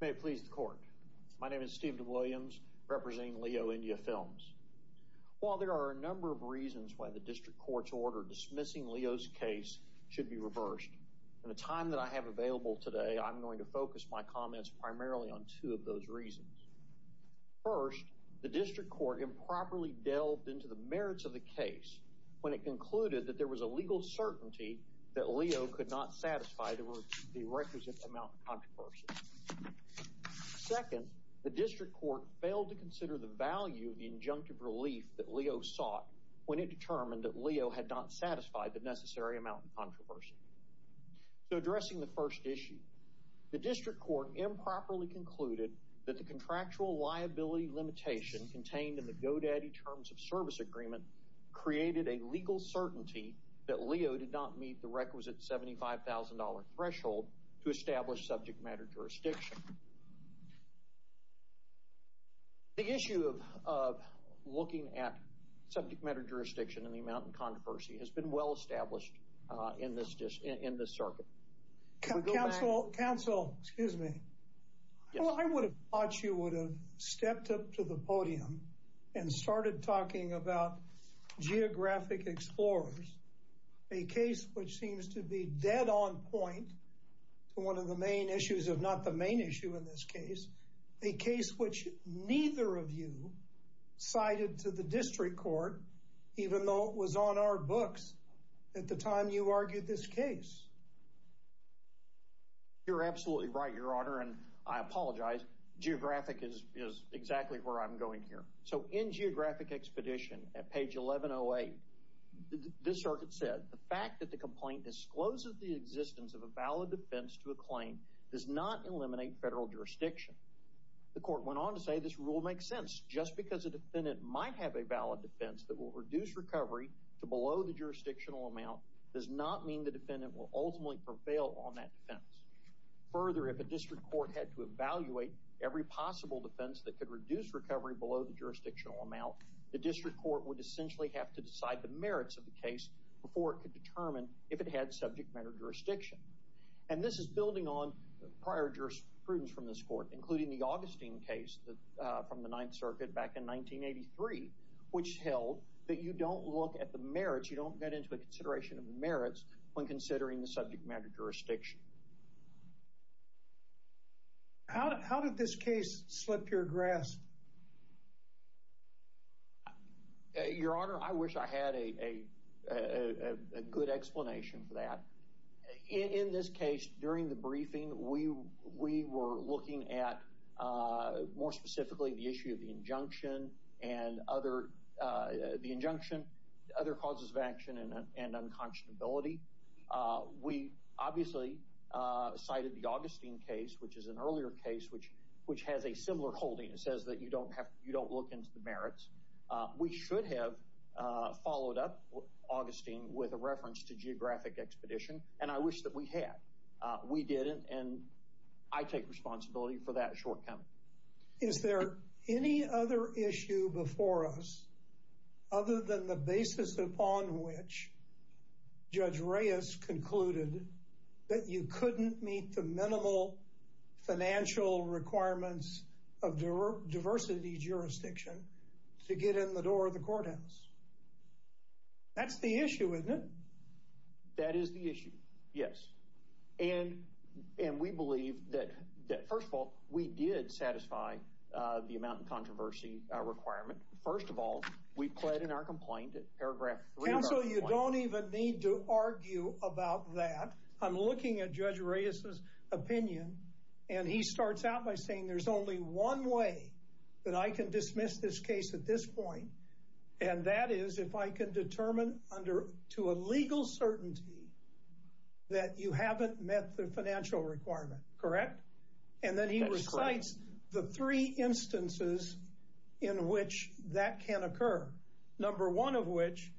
May it please the court. My name is Steve DeWilliams, representing Leo India Films. While there are a number of reasons why the district court's order dismissing Leo's case should be reversed, in the time that I have available today, I'm going to focus my comments primarily on two of those reasons. First, the district court improperly delved into the merits of the case when it concluded that there was a legal certainty that Leo could not satisfy the requisite amount of controversy. Second, the district court failed to consider the value of the injunctive relief that Leo sought when it determined that Leo had not satisfied the necessary amount of controversy. So addressing the first issue, the district court improperly concluded that the contractual liability limitation contained in the GoDaddy terms of service agreement created a legal certainty that Leo did not meet the requisite $75,000 threshold to establish subject matter jurisdiction. The issue of looking at subject matter jurisdiction and the amount of controversy has been well established in this circuit. Counsel, excuse me. I would have thought you would have stepped up to the podium and started talking about geographic explorers, a case which seems to be dead on point to one of the main issues, if not the main issue in this case, a case which neither of you cited to the district court, even though it was on our books at the time you argued this case. You're absolutely right, Your Honor, and I apologize. Geographic is exactly where I'm going here. So in Geographic Expedition, at page 1108, this circuit said, the fact that the complaint discloses the existence of a valid defense to a claim does not eliminate federal jurisdiction. The court went on to say this rule makes sense. Just because a defendant might have a valid defense that will reduce recovery to below the jurisdictional amount does not mean the defendant will ultimately prevail on that defense. Further, if a district court had to evaluate every possible defense that could reduce recovery below the jurisdictional amount, the district court would essentially have to decide the merits of the case before it could determine if it had subject matter jurisdiction. And this is building on prior jurisprudence from this court, including the Augustine case from the Ninth Circuit back in 1983, which held that you don't look at the merits, you don't get into a consideration of the merits when considering the subject matter jurisdiction. How did this case slip your grasp? Your Honor, I wish I had a good explanation for that. In this case, during the briefing, we were looking at, more specifically, the issue of the injunction, other causes of action, and unconscionability. We obviously cited the Augustine case, which is an earlier case, which has a similar holding. It says that you don't look into the merits. We should have followed up Augustine with a reference to geographic expedition, and I wish that we had. We didn't, and I take responsibility for that shortcoming. Is there any other issue before us, other than the basis upon which Judge Reyes concluded that you couldn't meet the minimal financial requirements of diversity jurisdiction to get in the door of the courthouse? That's the issue, isn't it? That is the issue, yes. And we believe that, first of all, we did satisfy the amount of controversy requirement. First of all, we pled in our complaint, paragraph three of our complaint. I don't even need to argue about that. I'm looking at Judge Reyes's opinion, and he starts out by saying there's only one way that I can dismiss this case at this point, and that is if I can determine to a legal certainty that you haven't met the financial requirement, correct? That's correct. And then he recites the three instances in which that can occur, number one of which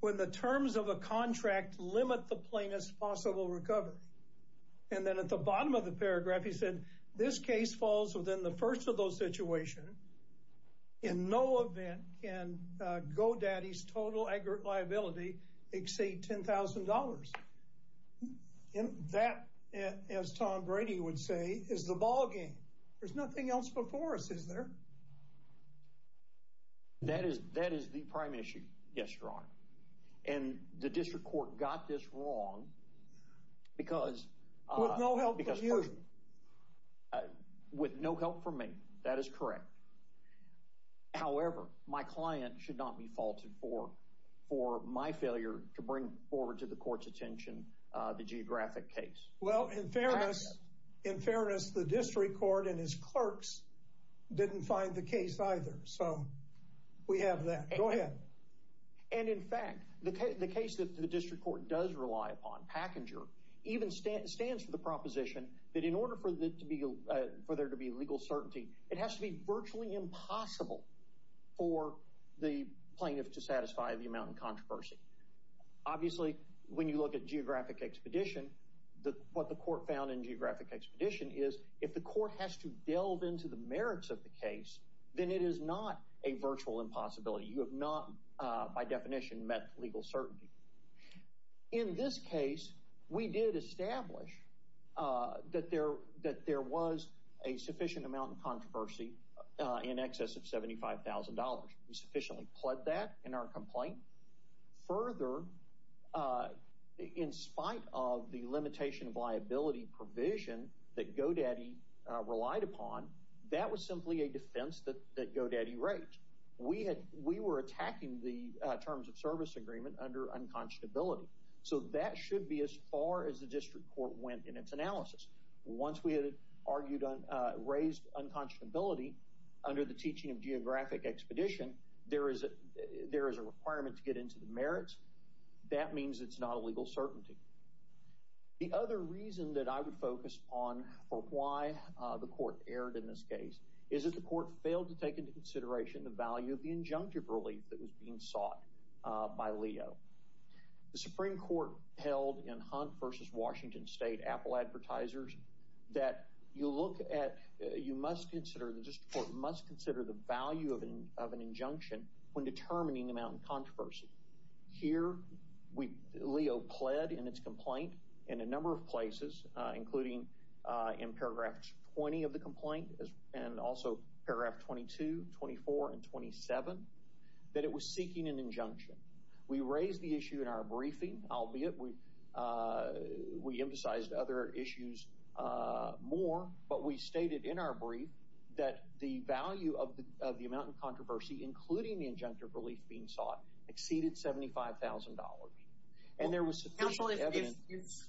when the terms of a contract limit the plaintiff's possible recovery. And then at the bottom of the paragraph, he said this case falls within the first of those situations. In no event can GoDaddy's total aggregate liability exceed $10,000. And that, as Tom Brady would say, is the ballgame. There's nothing else before us, is there? That is the prime issue, yes, Your Honor. And the district court got this wrong because- With no help from you. With no help from me, that is correct. However, my client should not be faulted for my failure to bring forward to the court's attention the geographic case. Well, in fairness, the district court and his clerks didn't find the case either. So we have that. Go ahead. And in fact, the case that the district court does rely upon, Packenger, even stands for the proposition that in order for there to be legal certainty, it has to be virtually impossible for the plaintiff to satisfy the amount of controversy. Obviously, when you look at geographic expedition, what the court found in geographic expedition is if the court has to delve into the merits of the case, then it is not a virtual impossibility. You have not, by definition, met legal certainty. In this case, we did establish that there was a sufficient amount of controversy in excess of $75,000. We sufficiently pled that in our complaint. Further, in spite of the limitation of liability provision that GoDaddy relied upon, that was simply a defense that GoDaddy raised. We were attacking the terms of service agreement under unconscionability. So that should be as far as the district court went in its analysis. Once we had raised unconscionability under the requirement to get into the merits, that means it's not a legal certainty. The other reason that I would focus on for why the court erred in this case is that the court failed to take into consideration the value of the injunctive relief that was being sought by Leo. The Supreme Court held in Hunt v. Washington State, Apple Advertisers, that you must consider the value of an injunction when determining amount of controversy. Here, Leo pled in its complaint in a number of places, including in paragraphs 20 of the complaint and also paragraph 22, 24, and 27, that it was seeking an injunction. We raised the issue in our briefing, albeit we of the amount of controversy, including the injunctive relief being sought, exceeded $75,000. And there was sufficient evidence...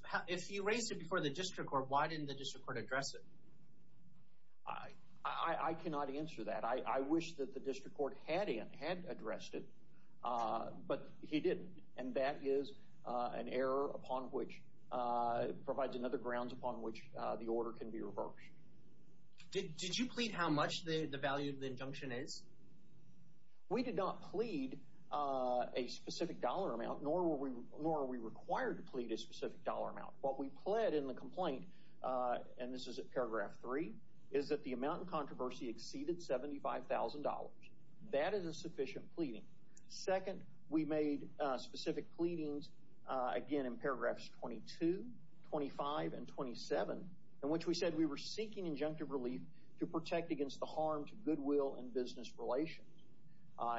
Counsel, if you raised it before the district court, why didn't the district court address it? I cannot answer that. I wish that the district court had addressed it, but he didn't. And that is an error upon which provides another grounds upon which the order can be reversed. Did you plead how much the value of the injunction is? We did not plead a specific dollar amount, nor are we required to plead a specific dollar amount. What we pled in the complaint, and this is at paragraph 3, is that the amount of controversy exceeded $75,000. That is a sufficient pleading. Second, we made specific pleadings, again, paragraphs 22, 25, and 27, in which we said we were seeking injunctive relief to protect against the harm to goodwill and business relations.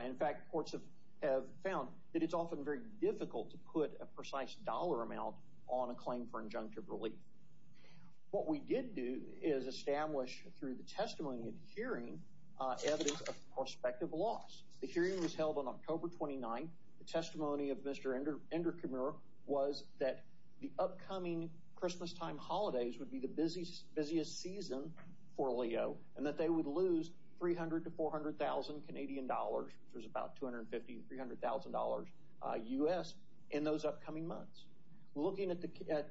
In fact, courts have found that it's often very difficult to put a precise dollar amount on a claim for injunctive relief. What we did do is establish through the testimony and hearing evidence of prospective loss. The hearing was that the upcoming Christmas time holidays would be the busiest season for Leo, and that they would lose $300,000 to $400,000 Canadian dollars, which was about $250,000 to $300,000 U.S. in those upcoming months. Looking at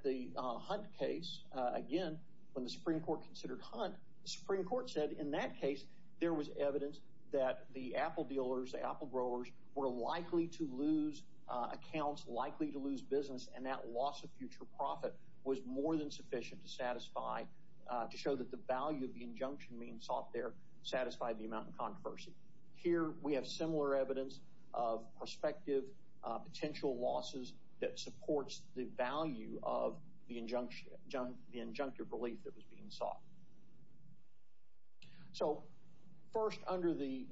the Hunt case, again, when the Supreme Court considered Hunt, the Supreme Court said in that case there was evidence that the apple dealers, the apple growers, were likely to lose accounts, likely to lose business, and that loss of future profit was more than sufficient to satisfy, to show that the value of the injunction being sought there satisfied the amount of controversy. Here, we have similar evidence of prospective potential losses that supports the value of the injunctive relief that was being sought. So, first, under the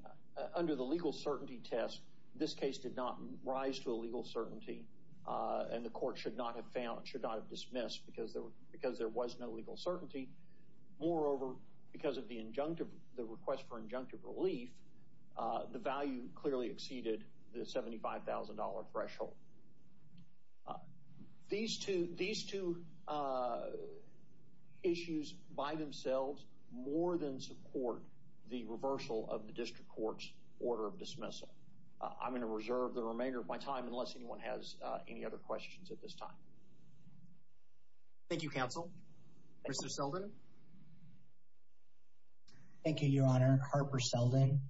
legal certainty test, this case did not rise to a legal certainty, and the court should not have found, should not have dismissed because there was no legal certainty. Moreover, because of the request for injunctive relief, the value clearly exceeded the $75,000 threshold. These two issues by themselves more than support the reversal of the district court's order of dismissal. I'm going to reserve the remainder of my time unless anyone has any other questions at this time. Thank you, counsel. Mr. Selden. Thank you, Your Honor. Harper Selden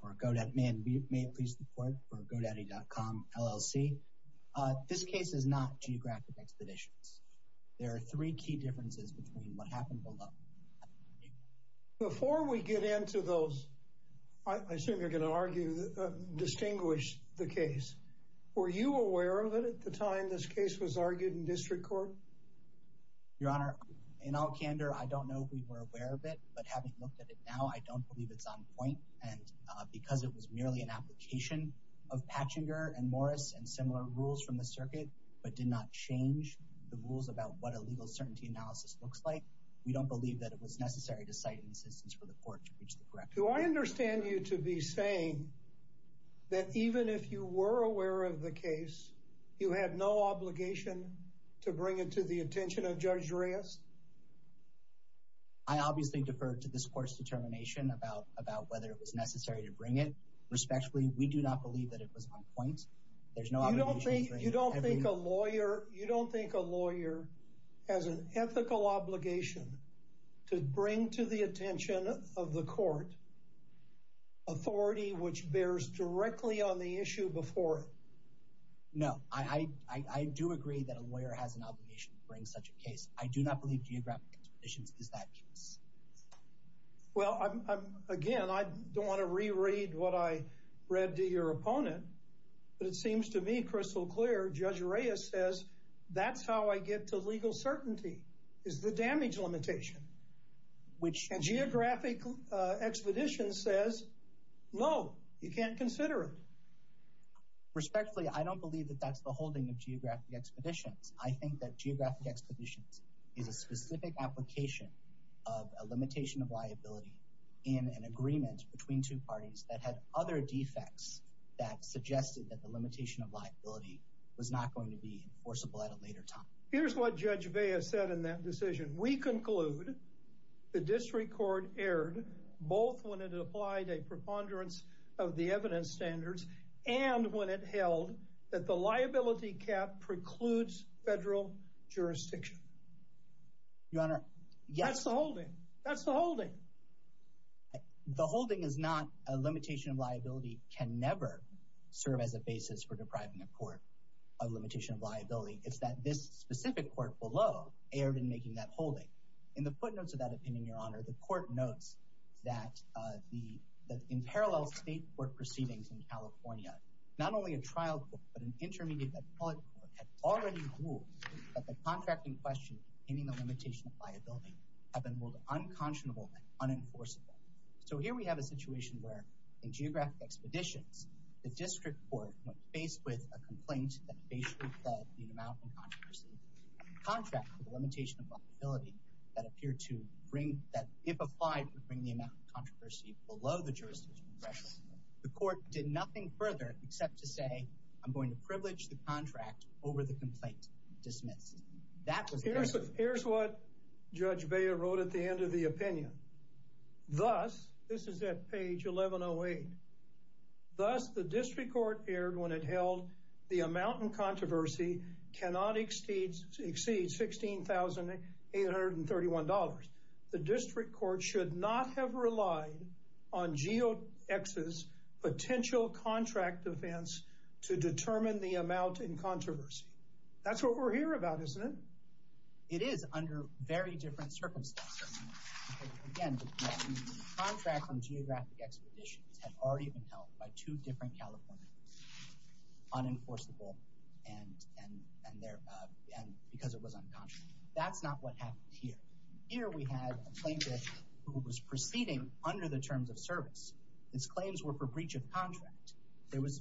for GoDaddy. May it please the court for GoDaddy.com, LLC. This case is not geographic expeditions. There are three key differences between what happened below. Before we get into those, I assume you're going to argue, distinguish the case. Were you aware of it at the time this case was argued in district court? Your Honor, in all candor, I believe that I don't know if we were aware of it, but having looked at it now, I don't believe it's on point. And because it was merely an application of Patchinger and Morris and similar rules from the circuit, but did not change the rules about what a legal certainty analysis looks like, we don't believe that it was necessary to cite insistence for the court to reach the correct. Do I understand you to be saying that even if you were aware of the case, you had no obligation to bring it to the attention of Judge Reyes? I obviously defer to this court's determination about whether it was necessary to bring it respectfully. We do not believe that it was on point. There's no obligation. You don't think a lawyer has an ethical obligation to bring to the attention of the court authority which bears directly on the issue before it? No, I do agree that a lawyer has an obligation to bring such a case. I do not believe geographic expeditions is that case. Well, again, I don't want to reread what I read to your opponent, but it seems to me crystal clear. Judge Reyes says that's how I get to legal certainty, is the damage limitation, which geographic expeditions says, no, you can't consider it. Respectfully, I don't believe that that's the holding of geographic expeditions. I think that geographic expeditions is a specific application of a limitation of liability in an agreement between two parties that had other defects that suggested that the limitation of liability was not going to be enforceable at a later time. Here's what Judge Vea said in that decision. We conclude the district court erred both when it applied a preponderance of the evidence standards and when it held that the liability cap precludes federal jurisdiction. Your Honor, yes. That's the holding. That's the holding. The holding is not a limitation of liability can never serve as a basis for depriving a court of limitation of liability. It's that this specific court below erred in making that holding. In the footnotes of that opinion, Your Honor, the court notes that in parallel state court proceedings in California, not only a trial court, but an intermediate public court had already ruled that the contracting questions containing the limitation of liability have been both unconscionable and unenforceable. So here we have a situation where in geographic expeditions, the district court, when faced with a complaint that basically held the amount in controversy, contracted the limitation of liability that appeared to bring, that if applied, would bring the amount of controversy below the jurisdiction threshold. The court did nothing further except to say, I'm going to privilege the contract over the complaint dismissed. Here's what Judge Beyer wrote at the end of the opinion. Thus, this is at page 1108. Thus, the district court erred when it held the amount in controversy cannot exceed $16,831. The district court should not have relied on Geo-X's potential contract defense to determine the amount in controversy. That's what we're here about, isn't it? It is under very different circumstances. Again, the contract on geographic expeditions had already been held by two different Californians, unenforceable and because it was unconscionable. That's not what happened here. We had a plaintiff who was proceeding under the terms of service. His claims were for breach of contract. There was,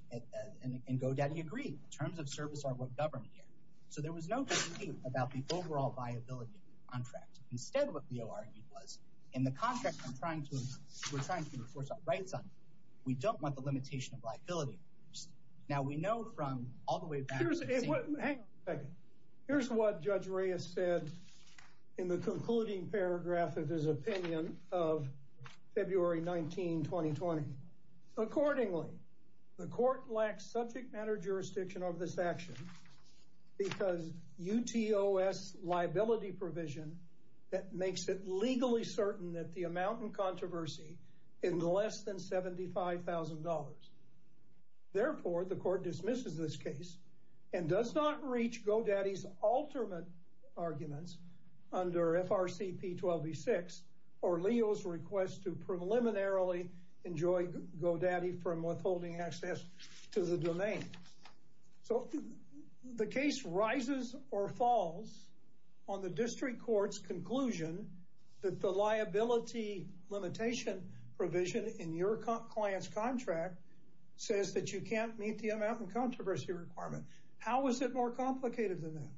and Godaddy agreed, terms of service are what govern here. So there was no debate about the overall viability of the contract. Instead, what we argued was, in the contract we're trying to enforce our rights on, we don't want the limitation of liability. Now we know from all Here's what Judge Reyes said in the concluding paragraph of his opinion of February 19, 2020. Accordingly, the court lacks subject matter jurisdiction over this action because UTOS liability provision that makes it legally certain that the amount in controversy is less than $75,000. Therefore, the court dismisses this case and does not reach Godaddy's ultimate arguments under FRCP 12-6 or Leo's request to preliminarily enjoy Godaddy from withholding access to the domain. So the case rises or falls on the district court's conclusion that the liability limitation provision in your client's contract says that you can't meet the amount in controversy requirement. How is it more complicated than that?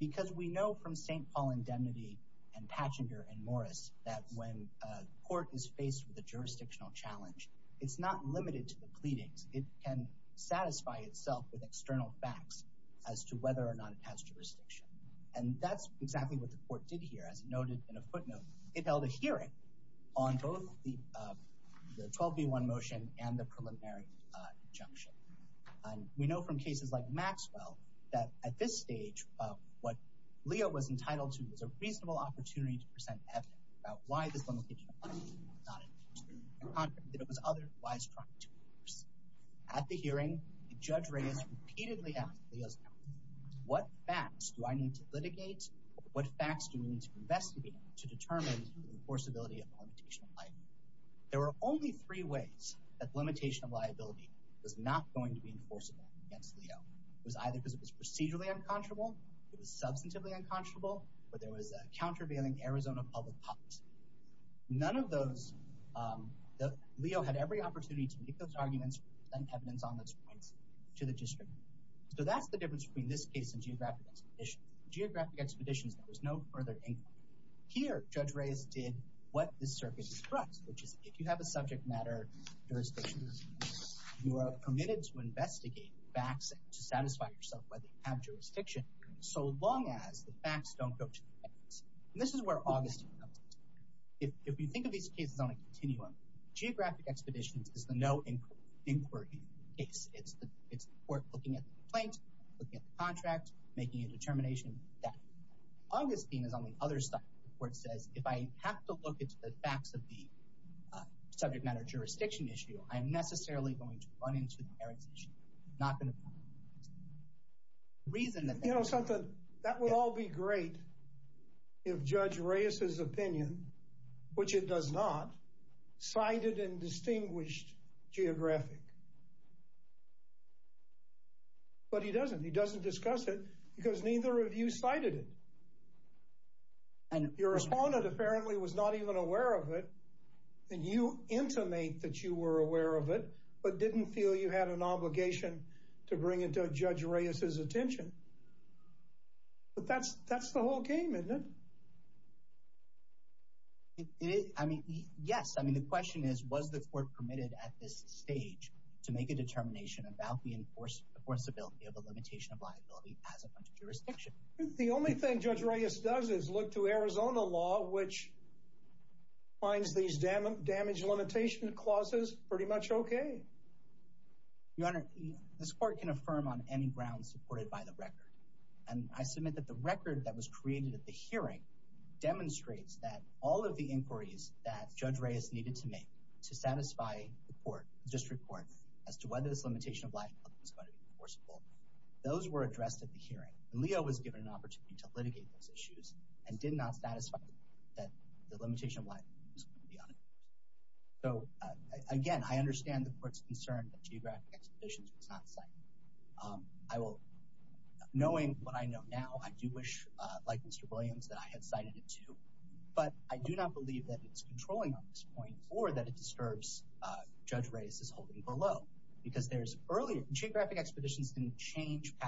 Because we know from St. Paul indemnity and Pachinger and Morris that when a court is faced with a jurisdictional challenge, it's not limited to the pleadings. It can satisfy itself with external facts as to whether or not it has jurisdiction. And that's exactly what the court did here. As noted in a footnote, it held a hearing on both the 12-B-1 motion and the preliminary injunction. And we know from cases like Maxwell that at this stage, what Leo was entitled to was a reasonable opportunity to present evidence about why this limitation was not in place. At the hearing, Judge Reyes repeatedly asked Leo's counsel, what facts do I need to litigate? What facts do we need to investigate to determine the enforceability of a limitation of life? There were only three ways that limitation of liability was not going to be enforceable against Leo. It was either because it was procedurally unconscionable, it was substantively unconscionable, or there was a countervailing Arizona public policy. None of those, Leo had every opportunity to make those arguments and evidence on those points to the district. So that's the difference between this case and geographic expeditions. Geographic expeditions, there was no further inquiry. Here, Judge Reyes did what this circuit instructs, which is if you have a subject matter jurisdiction, you are permitted to investigate facts to satisfy yourself whether you have jurisdiction, so long as the facts don't go to the defense. And this is where Augustine comes in. If we think of these cases on a continuum, geographic expeditions is the no inquiry case. It's the court looking at the complaint, looking at the contract, making a determination that Augustine is on the other side where it says, if I have to look into the facts of the subject matter jurisdiction issue, I am necessarily going to run into the merits issue. I'm not going to find the reason that... That would all be great if Judge Reyes's opinion, which it does not, cited and distinguished geographic. But he doesn't. He doesn't discuss it because neither of you cited it. Your respondent apparently was not even aware of it, and you intimate that you were aware of it, but didn't feel you had an obligation to bring it to Judge Reyes's attention. But that's the whole game, isn't it? I mean, yes. I mean, the question is, was the court permitted at this stage to make a determination about the enforceability of a limitation of liability as a jurisdiction? The only thing Judge Reyes does is look to Arizona law, which finds these damage limitation clauses pretty much okay. Your Honor, this court can affirm on any grounds supported by the record. And I submit that the record that was created at the hearing demonstrates that all of the inquiries that Judge Reyes needed to make to satisfy the court, the district court, as to whether this limitation of liability was going to be enforceable, those were addressed at the hearing. And Leo was given an opportunity to litigate those issues and did not satisfy that the limitation of liability was going to be unenforceable. So again, I understand the court's concern that geographic expeditions was not cited. I will, knowing what I know now, I do wish, like Mr. Williams, that I had cited it too. But I do not believe that it's controlling on this point or that it disturbs Judge Reyes's holding below. Because there's earlier, geographic expeditions didn't change to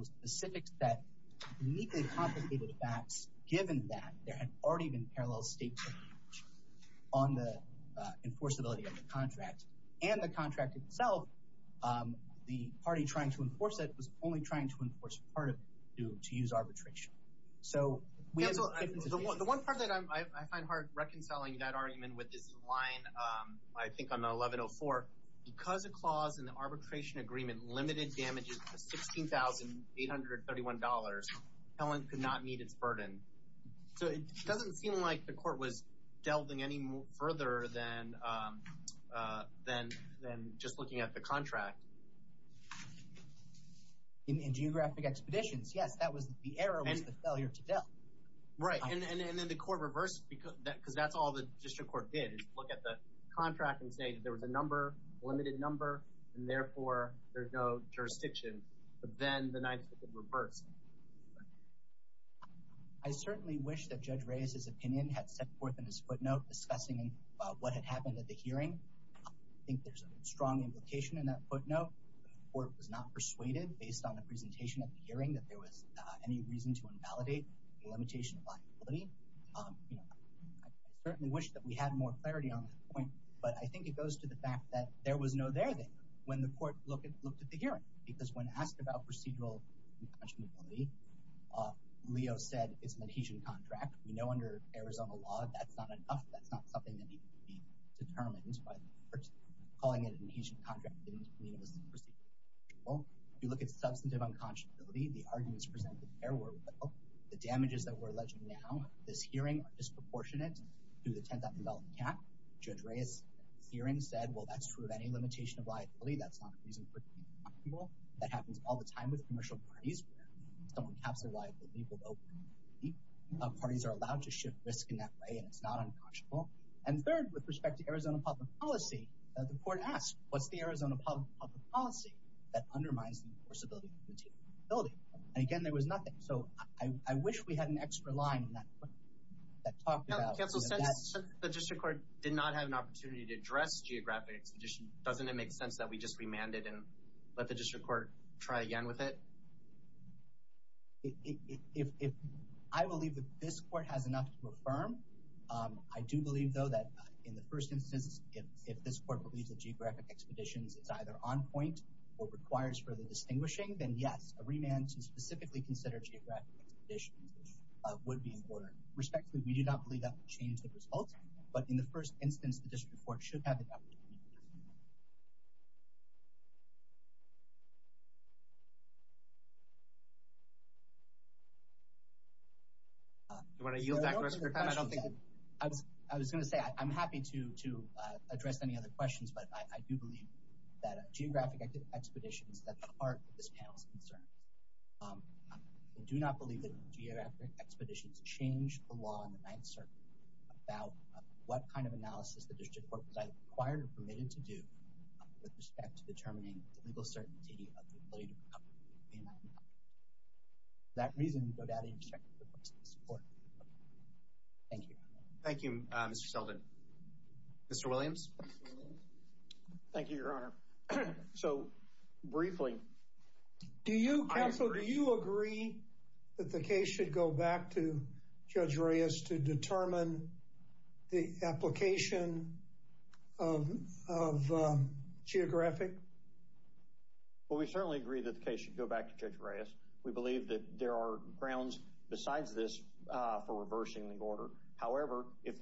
a specific set of uniquely complicated facts, given that there had already been parallel statements on the enforceability of the contract. And the contract itself, the party trying to enforce it was only trying to enforce part of it to use arbitration. The one part that I find hard reconciling that argument with is the line, I think on 1104, because a clause in the arbitration agreement limited damages to $16,831, Helen could not meet its burden. So it doesn't seem like the court was delving any further than just looking at the contract. In geographic expeditions, yes, the error was the failure to delve. Right. And then the court reversed, because that's all the district court did, look at the contract and say that there was a number, a limited number, and therefore, there's no jurisdiction. But then the 9th Circuit reversed. I certainly wish that Judge Reyes's opinion had set forth in his footnote discussing what had happened at the hearing. I think there's a strong implication in that footnote. The court was not persuaded based on the presentation at the hearing that there was any reason to invalidate the limitation of liability. You know, I certainly wish that we had more clarity on that point. But I think it goes to the fact that there was no there thing when the court looked at the hearing, because when asked about procedural unconscionability, Leo said, it's an adhesion contract. We know under Arizona law, that's not enough. That's not something that needs to be determined by the courts. Calling it an adhesion contract didn't mean it was unconstitutional. You look at substantive unconscionability, the arguments presented there were well. The damages that we're alleging now, this hearing, are disproportionate to the $10,000 cap. Judge Reyes's hearing said, well, that's true of any limitation of liability. That's not unreasonable. That happens all the time with commercial parties where someone caps their liability with open liability. Parties are allowed to shift risk in that way, and it's not unconscionable. And third, with respect to Arizona public policy, the court asked, what's the Arizona public policy that undermines the enforceability of unconstitutional liability? And again, there was nothing. So I wish we had an extra line in that talk. Counsel, since the district court did not have an opportunity to address geographic expeditions, doesn't it make sense that we just remand it and let the district court try again with it? I believe that this court has enough to affirm. I do believe, though, that in the first instance, if this court believes that geographic expeditions, it's either on point or requires further distinguishing, then yes, a remand to specifically consider geographic expeditions would be in order. Respectfully, we do not believe that would change the results, but in the first instance, the district court should have the opportunity to do so. Do you want to yield back to us for time? I was going to say, I'm happy to address any other questions, but I do believe that geographic expeditions, that's the heart of this panel's concerns. I do not believe that geographic expeditions change the law in the Ninth Circuit about what kind of analysis the district court was either required or permitted to do with respect to determining the legal certainty of the ability to recover from a remand. For that reason, no doubt I interject with the court's support. Thank you. Thank you, Mr. Selden. Mr. Williams? Thank you, Your Honor. So, briefly... Do you, counsel, do you agree that the case should go back to Judge Reyes to determine the application of geographic? Well, we certainly agree that the case should go back to Judge Reyes. We believe that there are grounds besides this for reversing the order. However, if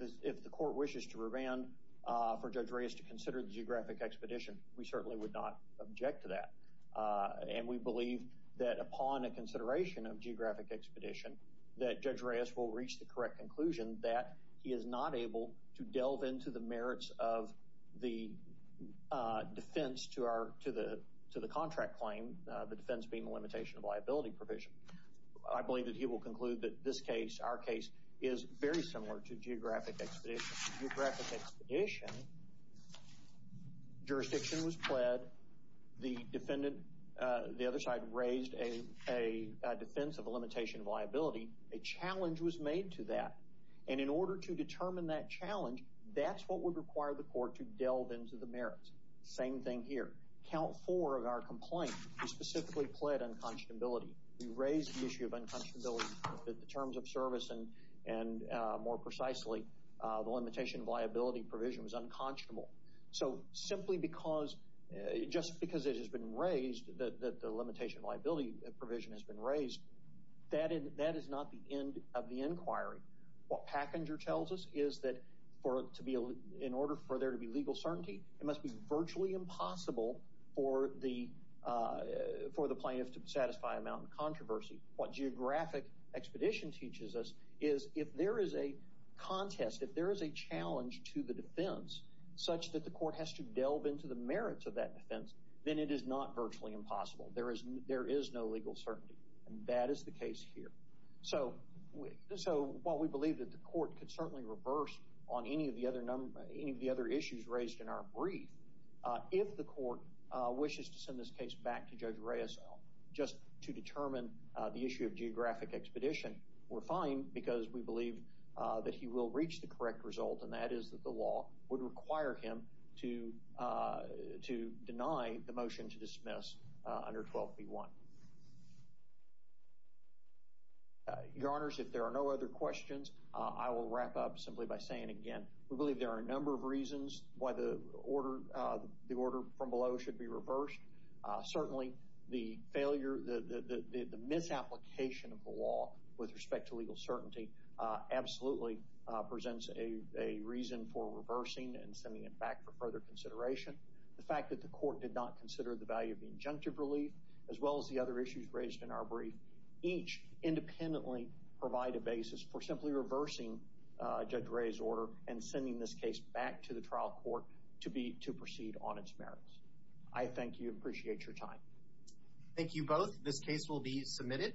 the court wishes to remand for Judge Reyes to consider the geographic expedition, we certainly would not object to that. And we believe that upon a consideration of geographic expedition, that Judge Reyes will reach the correct conclusion that he is not able to delve into the merits of the defense to the contract claim, the defense being a limitation of liability provision. I believe that he will issue... Jurisdiction was pled. The defendant, the other side, raised a defense of a limitation of liability. A challenge was made to that. And in order to determine that challenge, that's what would require the court to delve into the merits. Same thing here. Count four of our complaint. We specifically pled unconscionability. We raised the issue of unconscionability in terms of service. And more precisely, the limitation of liability provision was unconscionable. So simply because... Just because it has been raised that the limitation of liability provision has been raised, that is not the end of the inquiry. What Packenger tells us is that for it to be... In order for there to be legal certainty, it must be virtually impossible for the plaintiff to satisfy a mountain of controversy. What geographic expedition teaches us is if there is a contest, if there is a challenge to the defense such that the court has to delve into the merits of that defense, then it is not virtually impossible. There is no legal certainty. And that is the case here. So while we believe that the court could certainly reverse on any of the other issues raised in our brief, if the court wishes to send this case back to Judge Reyes just to determine the issue of geographic expedition, we're fine because we believe that he will reach the correct result, and that is that the law would require him to deny the motion to dismiss under 12b1. Your Honors, if there are no other questions, I will wrap up simply by saying again, we believe there are a number of reasons why the order from below should be reversed. Certainly, the failure, the misapplication of the law with respect to legal certainty absolutely presents a reason for reversing and sending it back for further consideration. The fact that the court did not consider the value of the injunctive relief, as well as the other issues raised in our brief, each independently provide a basis for simply reversing Judge Reyes' order and sending this case back to the trial court to proceed on its merits. I thank you and appreciate your time. Thank you both. This case will be submitted.